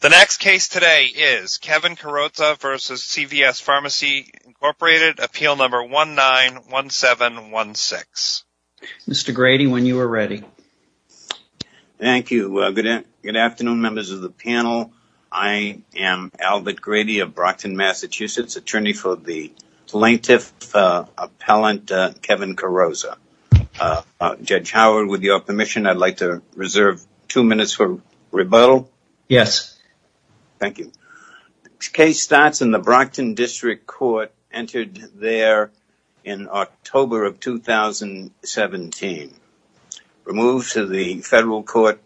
The next case today is Kevin Carrozza v. CVS Pharmacy, Inc. Appeal Number 191716. Mr. Grady, when you are ready. Thank you. Good afternoon, members of the panel. I am Albert Grady of Brockton, Massachusetts, attorney for the plaintiff, appellant Kevin Carrozza. Judge Howard, with your permission, I'd like to reserve two minutes for rebuttal. Yes. Thank you. Case starts in the Brockton District Court, entered there in October of 2017. Removed to the federal court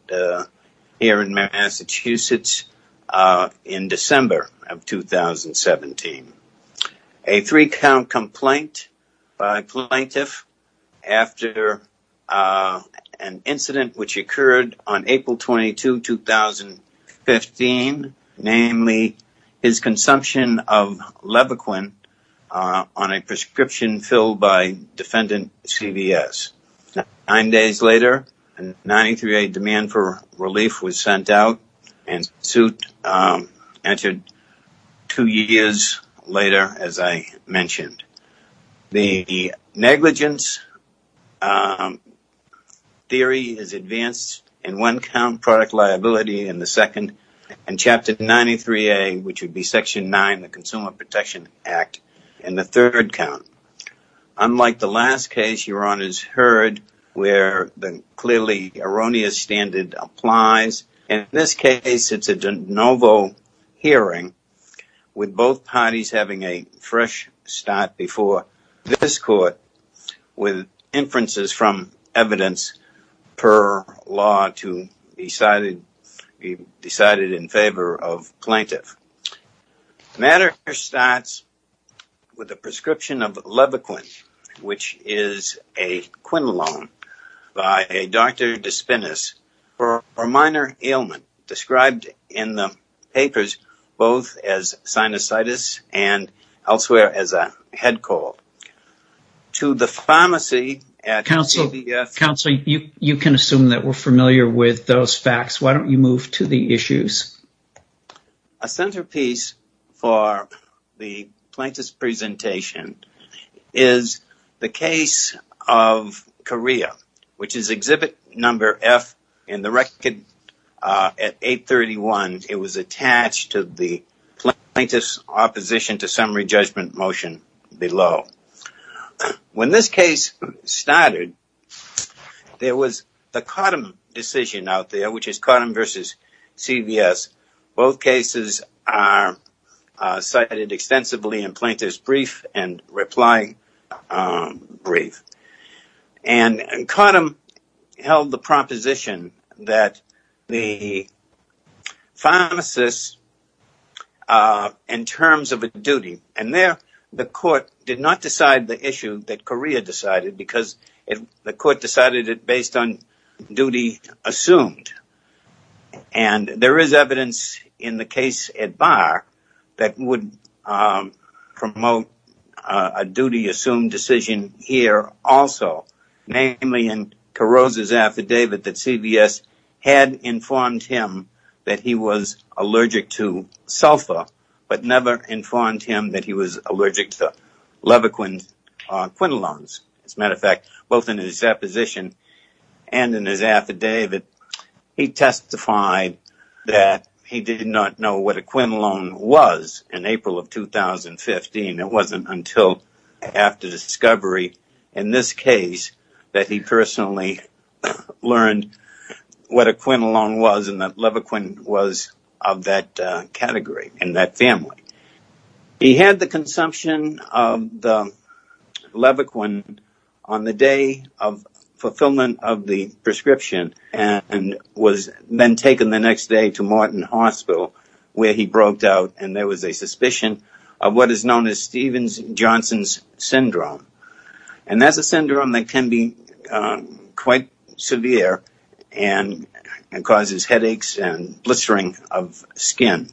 here in Massachusetts A three count complaint by plaintiff after an incident which occurred on April 22, 2015, namely his consumption of Levaquin on a prescription filled by defendant CVS. Nine days later, 93A demand for relief was sent out and suit entered two years later, as I mentioned. The negligence theory is advanced in one count, product liability in the second, and Chapter 93A, which would be Section 9, the Consumer Protection Act, in the third count. Unlike the last case, Your Honor's heard where the clearly erroneous standard applies. In this case, it's a de novo hearing with both parties having a fresh start before this court with inferences from evidence per law to be decided in favor of plaintiff. Matter starts with a prescription of Levaquin, which is a quinolone by a Dr. Despinis for a minor ailment described in the papers both as sinusitis and elsewhere as a head cold. To the pharmacy at CVS... Counsel, you can assume that we're familiar with those facts. Why don't you move to the issues? A centerpiece for the plaintiff's presentation is the case of Korea, which is exhibit number F in the record at 831. It was attached to the plaintiff's opposition to summary judgment motion below. When this case started, there was the Cottom decision out there, which is Cottom versus CVS. Both cases are cited extensively in plaintiff's brief and reply brief. And Cottom held the proposition that the pharmacist, in terms of a duty... And there, the court did not decide the issue that Korea decided because the court decided it based on duty assumed. And there is evidence in the case at bar that would promote a duty assumed decision here also, namely in Carozza's affidavit that CVS had informed him that he was allergic to sulfur, but never informed him that he was allergic to levoquin quinolones. As a matter of fact, both in his supposition and in his affidavit, he testified that he did not know what a quinolone was in April of 2015. It wasn't until after discovery. In this case, that he personally learned what a quinolone was and that levoquin was of that category in that family. He had the consumption of the levoquin on the day of fulfillment of the prescription and was then taken the next day to Martin Hospital, where he broke down and there was a suspicion of what is known as Stevens-Johnson's syndrome. And that's a syndrome that can be quite severe and causes headaches and blistering of skin.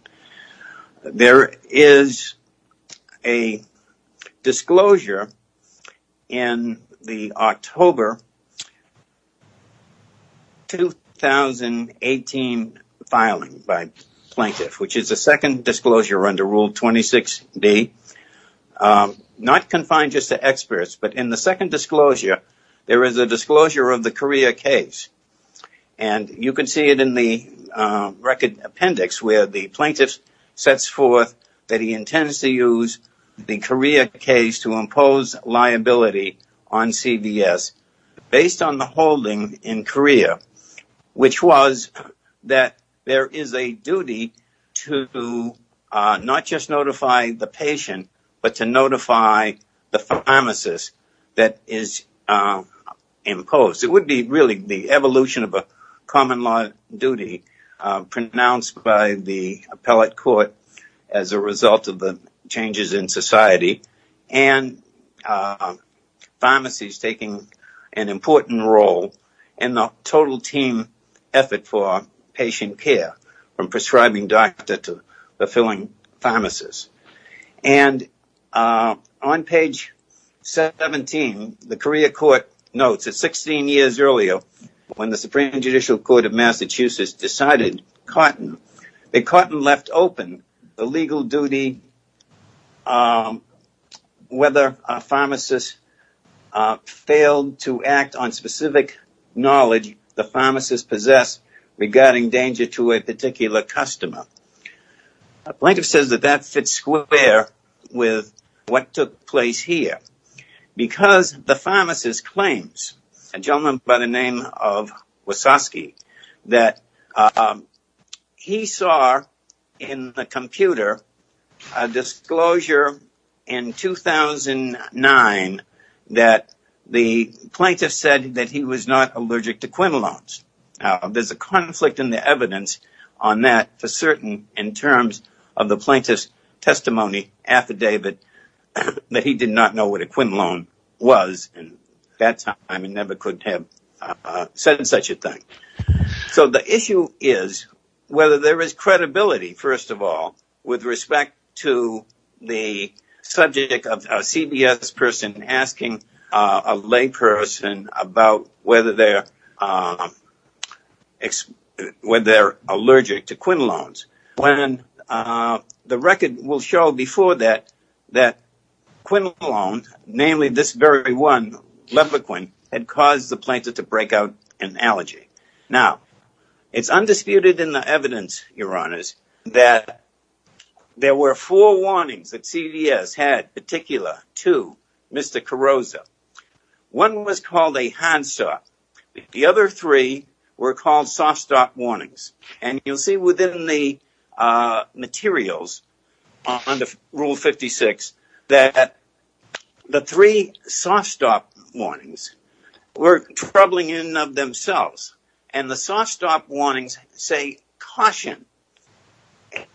There is a disclosure in the October 2018 filing by plaintiff, which is a second disclosure under Rule 26B, not confined just to experts, but in the second disclosure, there is a disclosure of the Korea case. And you can see it in the record appendix where the plaintiff sets forth that he intends to use the Korea case to impose liability on CVS based on the holding in Korea, which was that there is a duty to not just notify the patient, but to notify the pharmacist that is imposed. It would be really the evolution of a common law duty pronounced by the appellate court as a result of the changes in society. And pharmacies taking an important role in the total team effort for patient care, from prescribing doctor to fulfilling pharmacist. And on page 17, the Korea court notes, it's 16 years earlier when the Supreme Judicial Court of Massachusetts decided that Carton left open the legal duty on whether a pharmacist failed to act on specific knowledge the pharmacist possessed regarding danger to a particular customer. Plaintiff says that that fits square with what took place here because the pharmacist claims, a gentleman by the name of Wasoski, that he saw in the computer a disclosure in 2009 that the plaintiff said that he was not allergic to quinolones. There's a conflict in the evidence on that to certain in terms of the plaintiff's testimony affidavit that he did not know what a quinolone was at that time and never could have said such a thing. So the issue is whether there is credibility, first of all, with respect to the subject of a CBS person asking a lay person about whether they're allergic to quinolones. When the record will show before that, that quinolones, namely this very one, lepequin, had caused the plaintiff to break out an allergy. Now, it's undisputed in the evidence, Your Honors, that there were four warnings that CBS had particular to Mr. Carrozza. One was called a hand stop. The other three were called soft stop warnings. And you'll see within the materials on the Rule 56 that the three soft stop warnings were troubling in and of themselves. And the soft stop warnings say caution.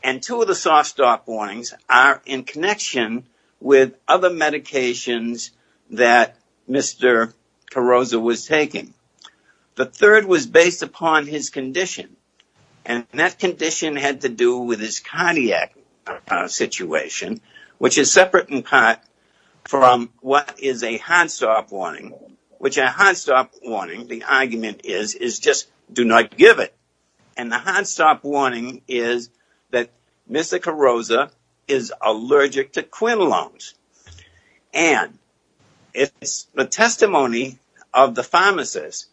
And two of the soft stop warnings are in connection with other medications that Mr. Carrozza was taking. The third was based upon his condition. And that condition had to do with his cardiac situation, which is separate in part from what is a hand stop warning. Which a hand stop warning, the argument is, is just do not give it. And the hand stop warning is that Mr. Carrozza is allergic to quinolones. And it's the testimony of the pharmacist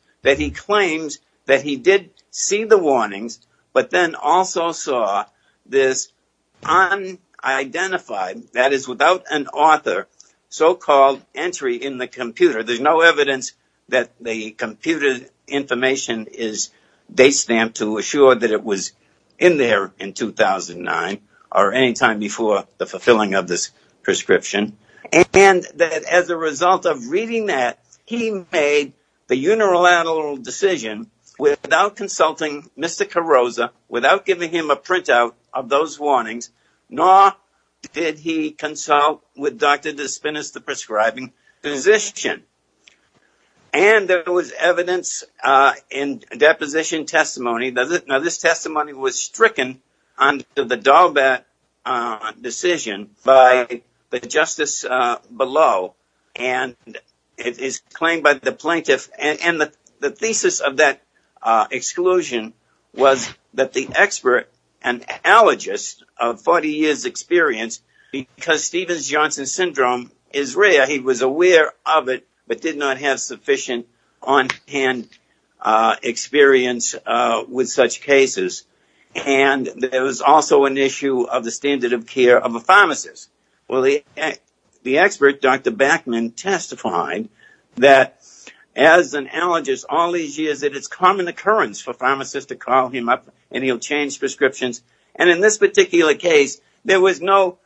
but then also saw this unidentified, that is without an author, so-called entry in the computer. There's no evidence that the computer information is date stamped to assure that it was in there in 2009 or any time before the fulfilling of this prescription. And that as a result of reading that, he made the unilateral decision without consulting Mr. Carrozza, without giving him a printout of those warnings, nor did he consult with Dr. Despinis, the prescribing physician. And there was evidence in deposition testimony. Now, this testimony was stricken under the Dalbert decision by the justice below. And it is claimed by the plaintiff. And the thesis of that exclusion was that the expert, an allergist of 40 years experience, because Stevens-Johnson syndrome is rare, he was aware of it, but did not have sufficient on-hand experience with such cases. And there was also an issue of the standard of care of a pharmacist. Well, the expert, Dr. Backman, testified that as an allergist all these years, it is common occurrence for pharmacists to call him up and he'll change prescriptions. And in this particular case, there was no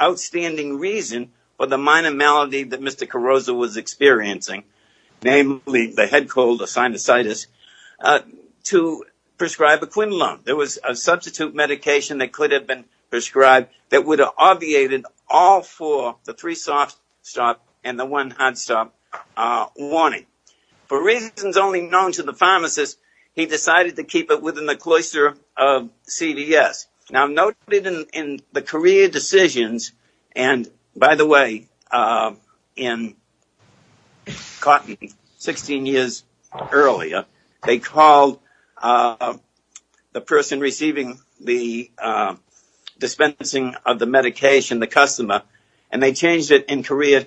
outstanding reason for the minor malady that Mr. Carrozza was experiencing, namely the head cold or sinusitis, to prescribe a Quinlun. There was a substitute medication that could have been prescribed that would have obviated all four, the three soft stop and the one hard stop warning. For reasons only known to the pharmacist, he decided to keep it within the cloister of CVS. Now, noted in the career decisions, and by the way, in Cotton, 16 years earlier, they called the person receiving the dispensing of the medication, the customer, and they changed it in Korea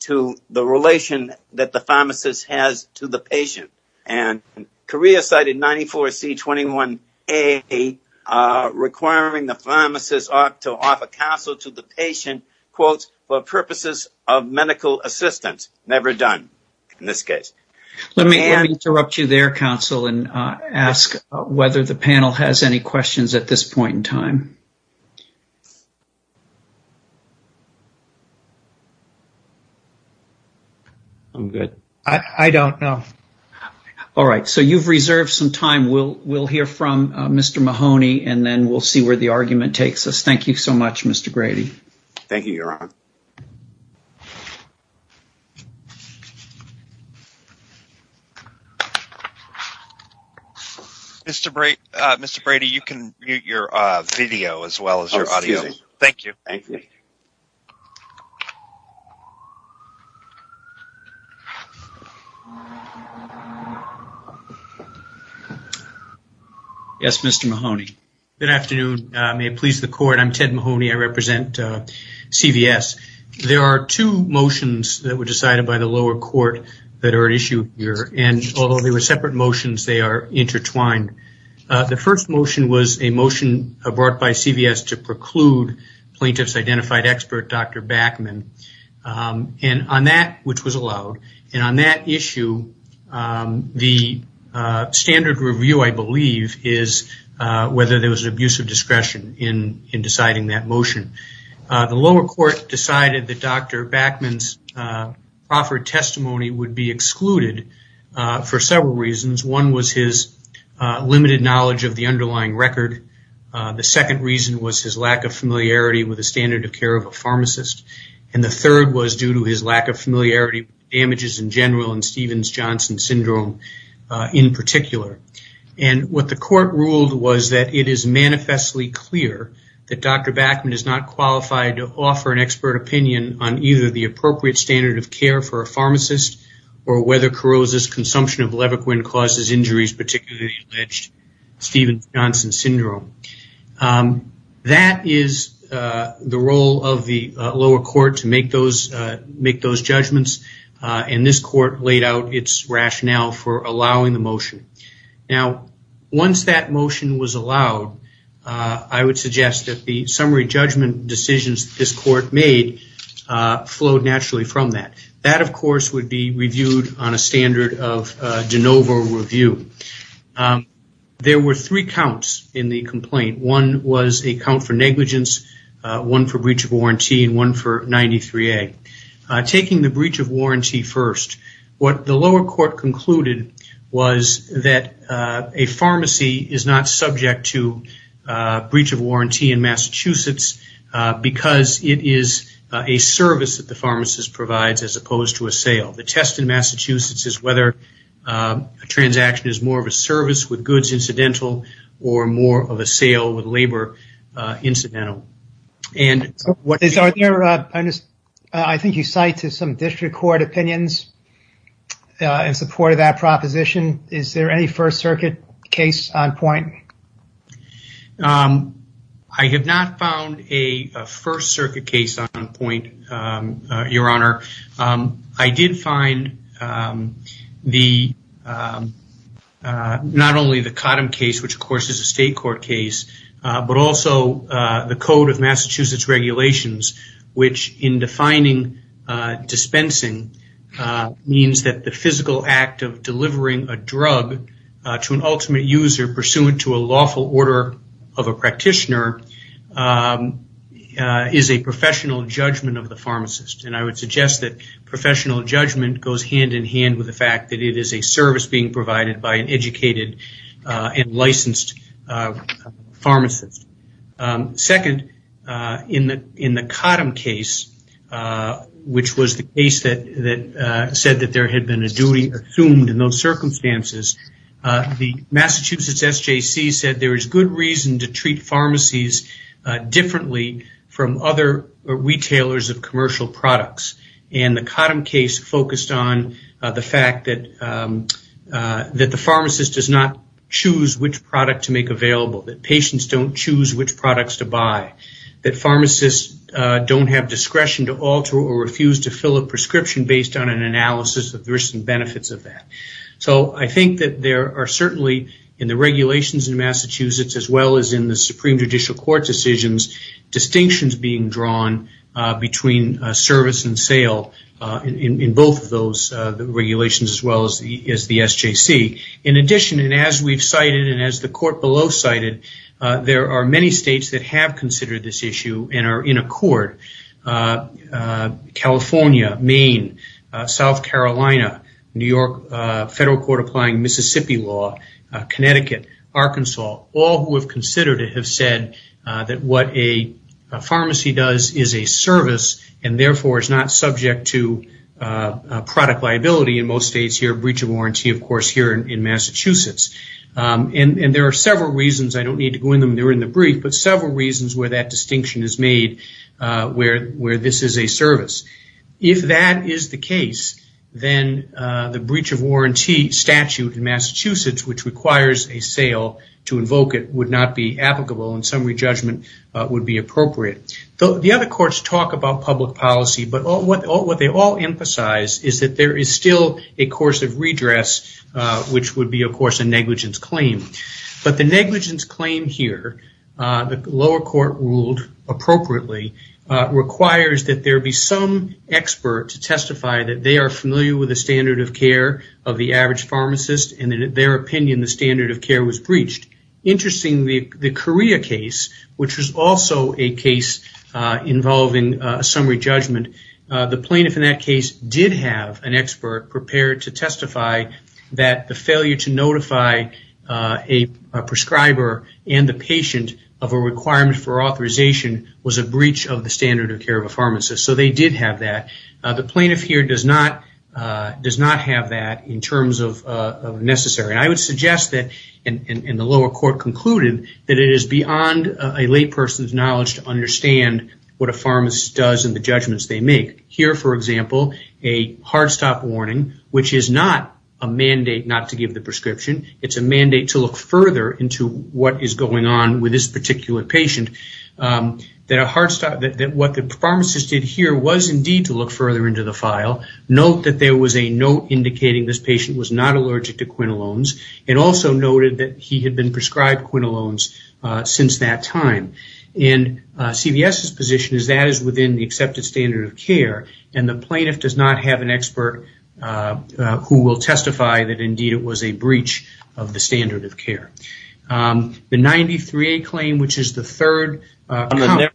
to the relation that the pharmacist has to the patient. And Korea cited 94C21A, requiring the pharmacist to offer counsel to the patient, quote, for purposes of medical assistance, never done in this case. Let me interrupt you there, counsel, and ask whether the panel has any questions at this point in time. I'm good. I don't know. All right. So you've reserved some time. We'll hear from Mr. Mahoney, and then we'll see where the argument takes us. Thank you so much, Mr. Grady. Thank you, Your Honor. Mr. Brady, you can mute your video as well as your audio. Thank you. Yes, Mr. Mahoney. Good afternoon. May it please the Court. I'm Ted Mahoney. I represent CVS. There are two motions that were decided by the lower court that are at issue with the court. And although they were separate motions, they are intertwined. The first motion was a motion brought by CVS to preclude plaintiff's identified expert, Dr. Backman. And on that, which was allowed, and on that issue, the standard review, I believe, is whether there was an abuse of discretion in deciding that motion. The lower court decided that Dr. Backman's offered testimony would be excluded for several reasons. One was his limited knowledge of the underlying record. The second reason was his lack of familiarity with the standard of care of a pharmacist. And the third was due to his lack of familiarity with damages in general and Stevens-Johnson syndrome in particular. And what the court ruled was that it is manifestly clear that Dr. Backman is not qualified to offer an expert opinion on either the appropriate standard of care for a pharmacist or whether corrosive consumption of Levaquin causes injuries, particularly alleged Stevens-Johnson syndrome. That is the role of the lower court to make those judgments. And this court laid out its rationale for allowing the motion. Now, once that motion was allowed, I would suggest that the summary judgment decisions this court made flowed naturally from that. That of course would be reviewed on a standard of de novo review. There were three counts in the complaint. One was a count for negligence, one for breach of warranty and one for 93A. Taking the breach of warranty first, what the lower court concluded was that a pharmacy is not subject to a breach of warranty in Massachusetts because it is a service that the pharmacist provides as opposed to a sale. The test in Massachusetts is whether a transaction is more of a service with goods incidental or more of a sale with labor incidental. I think you cite to some district court opinions in support of that proposition. Is there any First Circuit case on point? I have not found a First Circuit case on point, Your Honor. I did find not only the Cottom case, which of course is a state court case, but also the code of Massachusetts regulations, which in defining dispensing means that the physical act of delivering a drug to an ultimate user pursuant to a lawful order of a practitioner is a professional judgment of the pharmacist. I would suggest that professional judgment goes hand in hand with the fact that it is a service being provided by an educated and licensed pharmacist. Second, in the Cottom case, which was the case that said that there had been a duty assumed in those circumstances, the Massachusetts SJC said there is good reason to treat pharmacies differently from other retailers of commercial products. And the Cottom case focused on the fact that the pharmacist does not choose which product to make available, that patients don't choose which products to buy, that pharmacists don't have discretion to alter or refuse to fill a prescription based on an analysis of the risks and benefits of that. So I think that there are certainly, in the regulations in Massachusetts as well as in the Supreme Judicial Court decisions, distinctions being drawn between service and sale in both of those regulations as well as the SJC. In addition, and as we've cited and as the court below cited, there are many states that have considered this issue and are in accord, California, Maine, South Carolina, New York Federal Court applying Mississippi law, Connecticut, Arkansas, all who have considered it have said that what a pharmacy does is a service and therefore is not subject to product liability in most states here, breach of warranty, of course, here in Massachusetts. And there are several reasons, I don't need to go into them, they're in the brief, but several reasons where that distinction is made where this is a service. If that is the case, then the breach of warranty statute in Massachusetts, which requires a sale to invoke it, would not be applicable and summary judgment would be appropriate. The other courts talk about public policy, but what they all emphasize is that there is still a course of redress, which would be, of course, a negligence claim. But the negligence claim here, the lower court ruled appropriately, requires that there be some expert to testify that they are familiar with the standard of care of the average pharmacist and in their opinion, the standard of care was breached. Interestingly, the Korea case, which was also a case involving a summary judgment, the plaintiff in that case did have an expert prepared to testify that the failure to notify a prescriber and the patient of a requirement for authorization was a breach of the standard of care of a pharmacist. So they did have that. The plaintiff here does not have that in terms of necessary. I would suggest that, and the lower court concluded, that it is beyond a layperson's knowledge to understand what a pharmacist does and the judgments they make. Here, for example, a hard stop warning, which is not a mandate not to give the prescription, it's a mandate to look further into what is going on with this particular patient, that what the pharmacist did here was indeed to look further into the file, note that there was a note indicating this patient was not allergic to quinolones, and also noted that he had been prescribed quinolones since that time. And CVS's position is that is within the accepted standard of care and the plaintiff does not have an expert who will testify that indeed it was a breach of the standard of care. The 93A claim, which is the third comment.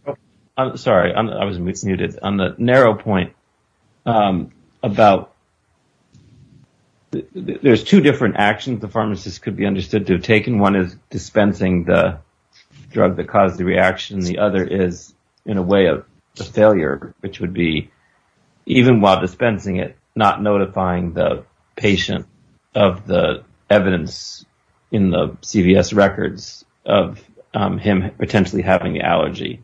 Sorry, I was mismuted. On the narrow point, there's two different actions the pharmacist could be understood to have taken. One is dispensing the drug that caused the reaction. The other is, in a way, a failure, which would be, even while dispensing it, not notifying the patient of the evidence in the CVS records of him potentially having the allergy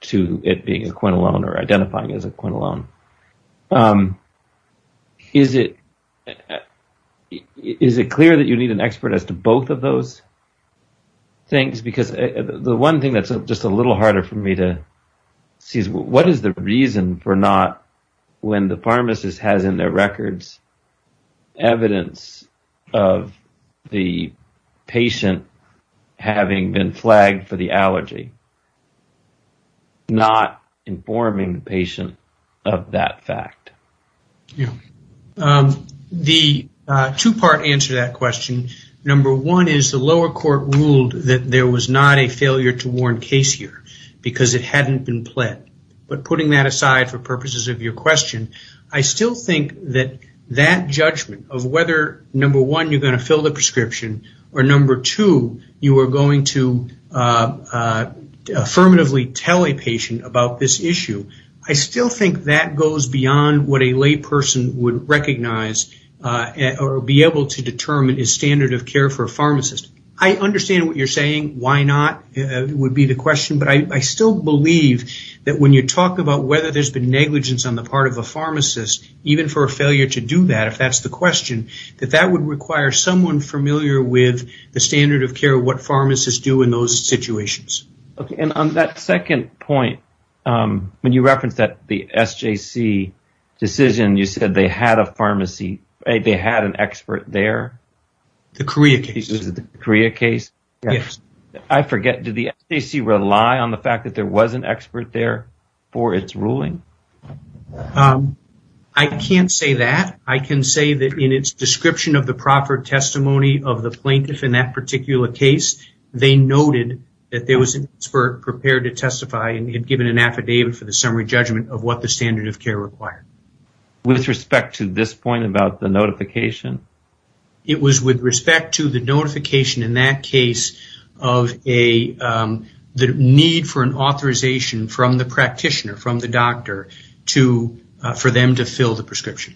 to it being a quinolone or identifying as a quinolone. Is it clear that you need an expert as to both of those things? Because the one thing that's just a little harder for me to see is what is the reason for not, when the pharmacist has in their records evidence of the patient having been flagged for the allergy, not informing the patient of that fact. The two part answer to that question, number one is the lower court ruled that there was not a failure to warn case here because it hadn't been pled. But putting that aside for purposes of your question, I still think that that judgment of whether, number one, you're gonna fill the prescription, or number two, you are going to affirmatively tell a patient about this issue, I still think that goes beyond what a lay person would recognize or be able to determine is standard of care for a pharmacist. I understand what you're saying, why not would be the question, but I still believe that when you talk about whether there's been negligence on the part of a pharmacist even for a failure to do that, if that's the question, that that would require someone familiar with the standard of care, what pharmacists do in those situations. Okay, and on that second point, when you referenced that the SJC decision, you said they had a pharmacy, they had an expert there. The Korea case. Is it the Korea case? Yes. I forget, did the SJC rely on the fact that there was an expert there for its ruling? I can't say that. I can say that in its description of the proper testimony of the plaintiff in that particular case, they noted that there was an expert prepared to testify and had given an affidavit for the summary judgment of what the standard of care required. With respect to this point about the notification? It was with respect to the notification in that case of the need for an authorization from the practitioner, from the doctor, for them to fill the prescription.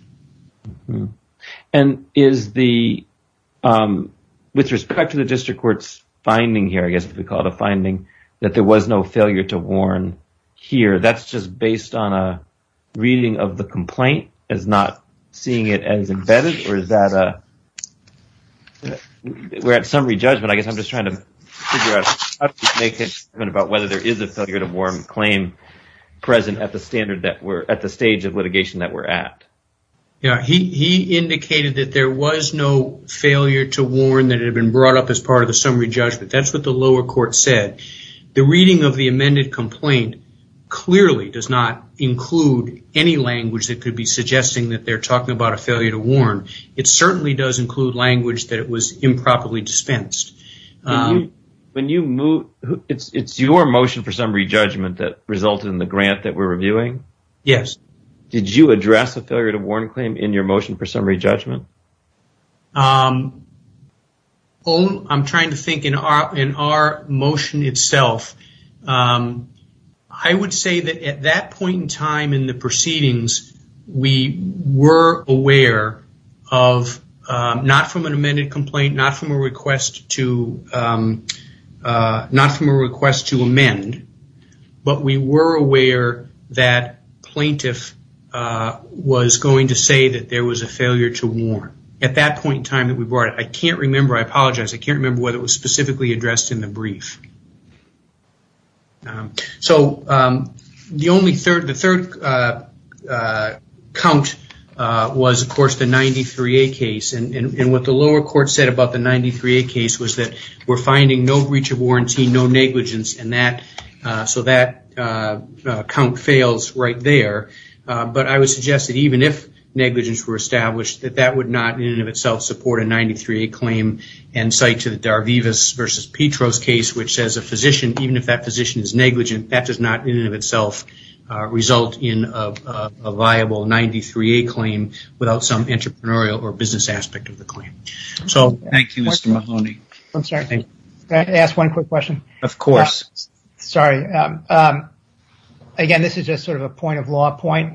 And is the, with respect to the district court's finding here I guess we call it a finding, that there was no failure to warn here, that's just based on a reading of the complaint as not seeing it as embedded? Or is that a, we're at summary judgment, I guess I'm just trying to figure out, how do you make it about whether there is a failure to warn claim present at the standard that we're, at the stage of litigation that we're at? Yeah, he indicated that there was no failure to warn that had been brought up as part of the summary judgment. That's what the lower court said. The reading of the amended complaint clearly does not include any language that could be suggesting that they're talking about a failure to warn. It certainly does include language that it was improperly dispensed. When you move, it's your motion for summary judgment that resulted in the grant that we're reviewing? Yes. Did you address a failure to warn claim in your motion for summary judgment? I'm trying to think in our motion itself, I would say that at that point in time in the proceedings, we were aware of, not from an amended complaint, not from a request to amend, but we were aware that plaintiff was going to say that there was a failure to warn. At that point in time that we brought it, I can't remember, I apologize, I can't remember whether it was specifically addressed in the brief. So the third count was of course the 93-A case. And what the lower court said about the 93-A case was that we're finding no breach of warranty, no negligence, and so that count fails right there. But I would suggest that even if negligence were established that that would not in and of itself support a 93-A claim and cite to the Darvivas versus Petros case, which says a physician, even if that physician is negligent, that does not in and of itself result in a viable 93-A claim without some entrepreneurial or business aspect of the claim. So thank you, Mr. Mahoney. I'm sorry, can I ask one quick question? Of course. Sorry. Again, this is just sort of a point of law point.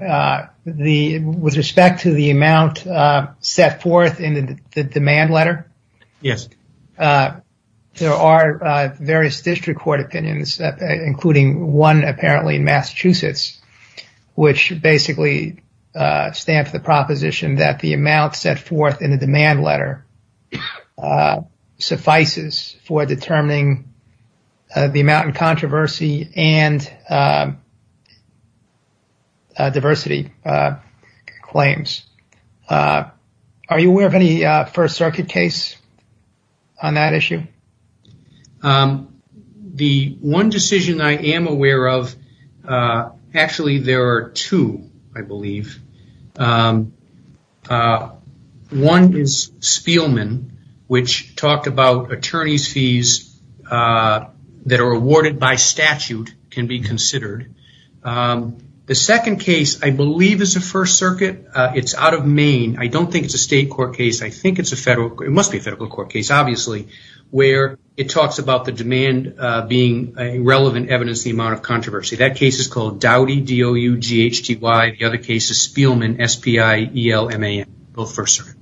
With respect to the amount set forth in the demand letter, Yes. there are various district court opinions, including one apparently in Massachusetts, which basically stand for the proposition that the amount set forth in the demand letter suffices for determining the amount in controversy and diversity claims. Are you aware of any First Circuit case on that issue? The one decision I am aware of, actually, there are two, I believe. One is Spielman, which talked about attorney's fees that are awarded by statute can be considered. The second case, I believe is a First Circuit. It's out of Maine. I don't think it's a state court case. I think it's a federal, it must be a federal court case. It's obviously where it talks about the demand being a relevant evidence, the amount of controversy. That case is called Dowdy, D-O-U-G-H-T-Y. The other case is Spielman, S-P-I-E-L-M-A-N. Both First Circuit.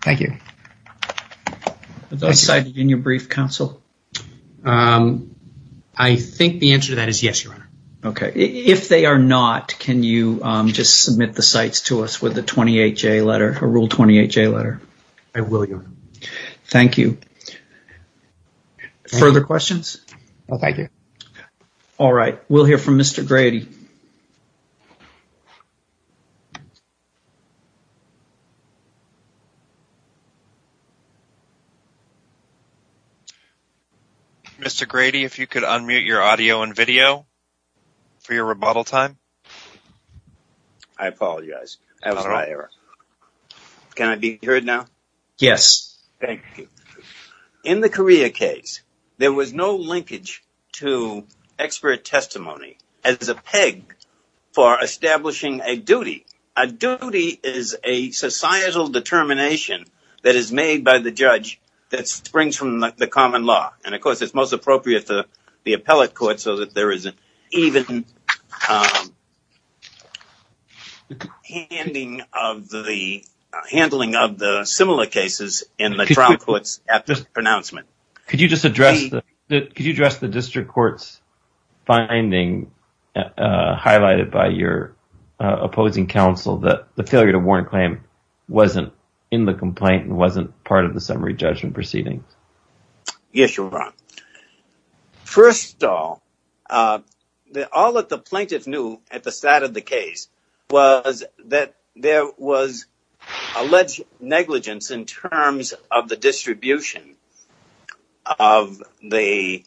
Thank you. Are those cited in your brief, counsel? I think the answer to that is yes, Your Honor. Okay. If they are not, can you just submit the sites to us with a 28-J letter, a Rule 28-J letter? I will, Your Honor. Thank you. Further questions? No, thank you. All right, we'll hear from Mr. Grady. Mr. Grady, if you could unmute your audio and video for your rebuttal time. I apologize, that was my error. Can I be heard now? Yes. Thank you. In the Korea case, there was no linkage to expert testimony as a peg for establishing a duty. A duty is a societal determination that is made by the judge that springs from the common law. And of course, it's most appropriate to the appellate court so that there is an even handling of the similar cases in the trial courts at this pronouncement. Could you just address the district court's finding highlighted by your opposing counsel that the failure to warrant a claim wasn't in the complaint and wasn't part of the summary judgment proceedings? Yes, Your Honor. First of all, all that the plaintiff knew at the start of the case was that there was alleged negligence in terms of the distribution of the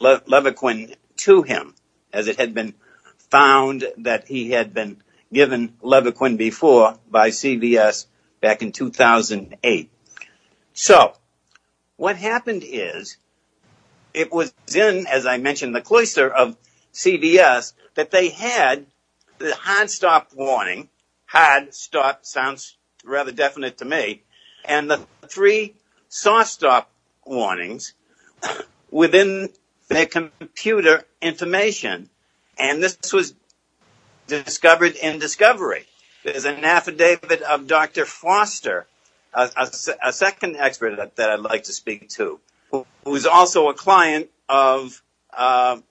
Levaquin to him, as it had been found that he had been given Levaquin before by CVS back in 2008. So, what happened is, it was in, as I mentioned, the cloister of CVS that they had the hard stop warning, hard stop sounds rather definite to me, and the three soft stop warnings within their computer information. And this was discovered in discovery. There's an affidavit of Dr. Foster, a second expert that I'd like to speak to, who is also a client of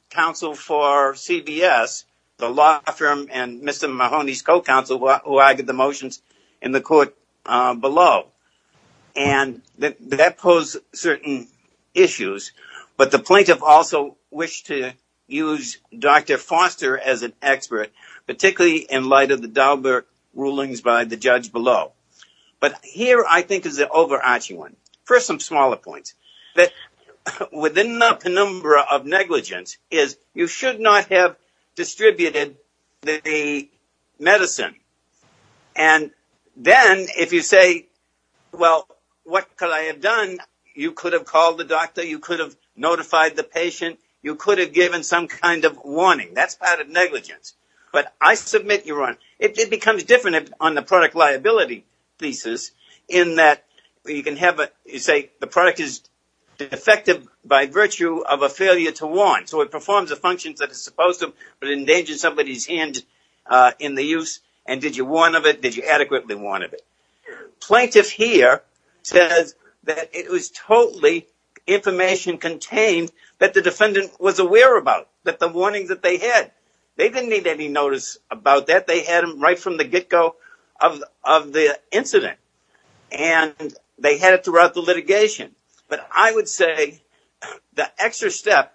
counsel for CVS, the law firm and Mr. Mahoney's co-counsel who argued the motions in the court below. And that posed certain issues, but the plaintiff also wished to use Dr. Foster as an expert, particularly in light of the Daubert rulings by the judge below. But here, I think is the overarching one. First, some smaller points, that within the penumbra of negligence is you should not have distributed the medicine. And then if you say, well, what could I have done? You could have called the doctor, you could have notified the patient, you could have given some kind of warning. That's part of negligence. But I submit you're on, it becomes different on the product liability thesis in that you can have a, you say the product is defective by virtue of a failure to warn. So it performs the functions that it's supposed to, but it endangers somebody's hand in the use. And did you warn of it? Did you adequately warn of it? Plaintiff here says that it was totally information contained that the defendant was aware about, that the warning that they had, they didn't need any notice about that. They had them right from the get-go of the incident. And they had it throughout the litigation. But I would say the extra step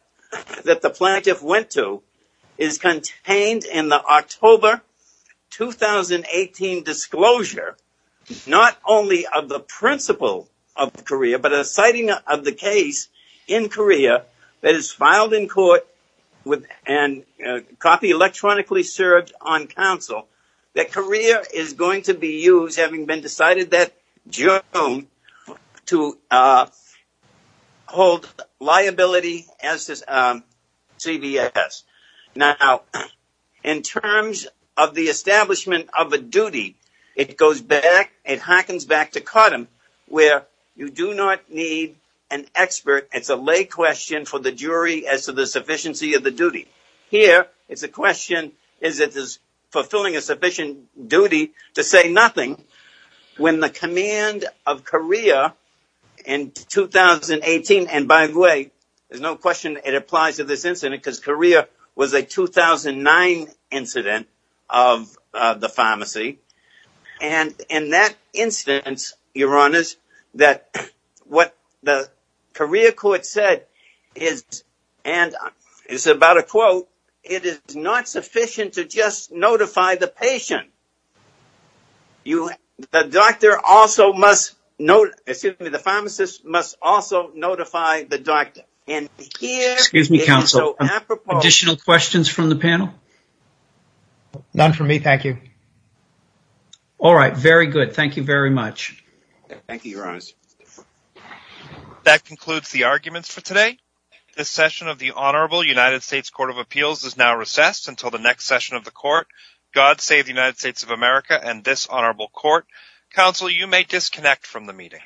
that the plaintiff went to is contained in the October 2018 disclosure, not only of the principle of Korea, but a citing of the case in Korea that is filed in court with a copy electronically served on counsel that Korea is going to be used, having been decided that June to hold liability as this CBS. Now, in terms of the establishment of a duty, it goes back, it harkens back to Cardem where you do not need an expert. It's a lay question for the jury as to the sufficiency of the duty. Here, it's a question, is it fulfilling a sufficient duty to say nothing when the command of Korea in 2018, and by the way, there's no question it applies to this incident because Korea was a 2009 incident of the pharmacy. And in that instance, Your Honors, that what the Korea court said is, and it's about a quote, it is not sufficient to just notify the patient. The doctor also must know, excuse me, the pharmacist must also notify the doctor. And here- Excuse me, counsel. Additional questions from the panel? None for me, thank you. All right, very good. Thank you very much. Thank you, Your Honors. That concludes the arguments for today. This session of the Honorable United States Court of Appeals is now recessed until the next session of the court. God save the United States of America and this honorable court. Counsel, you may disconnect from the meeting.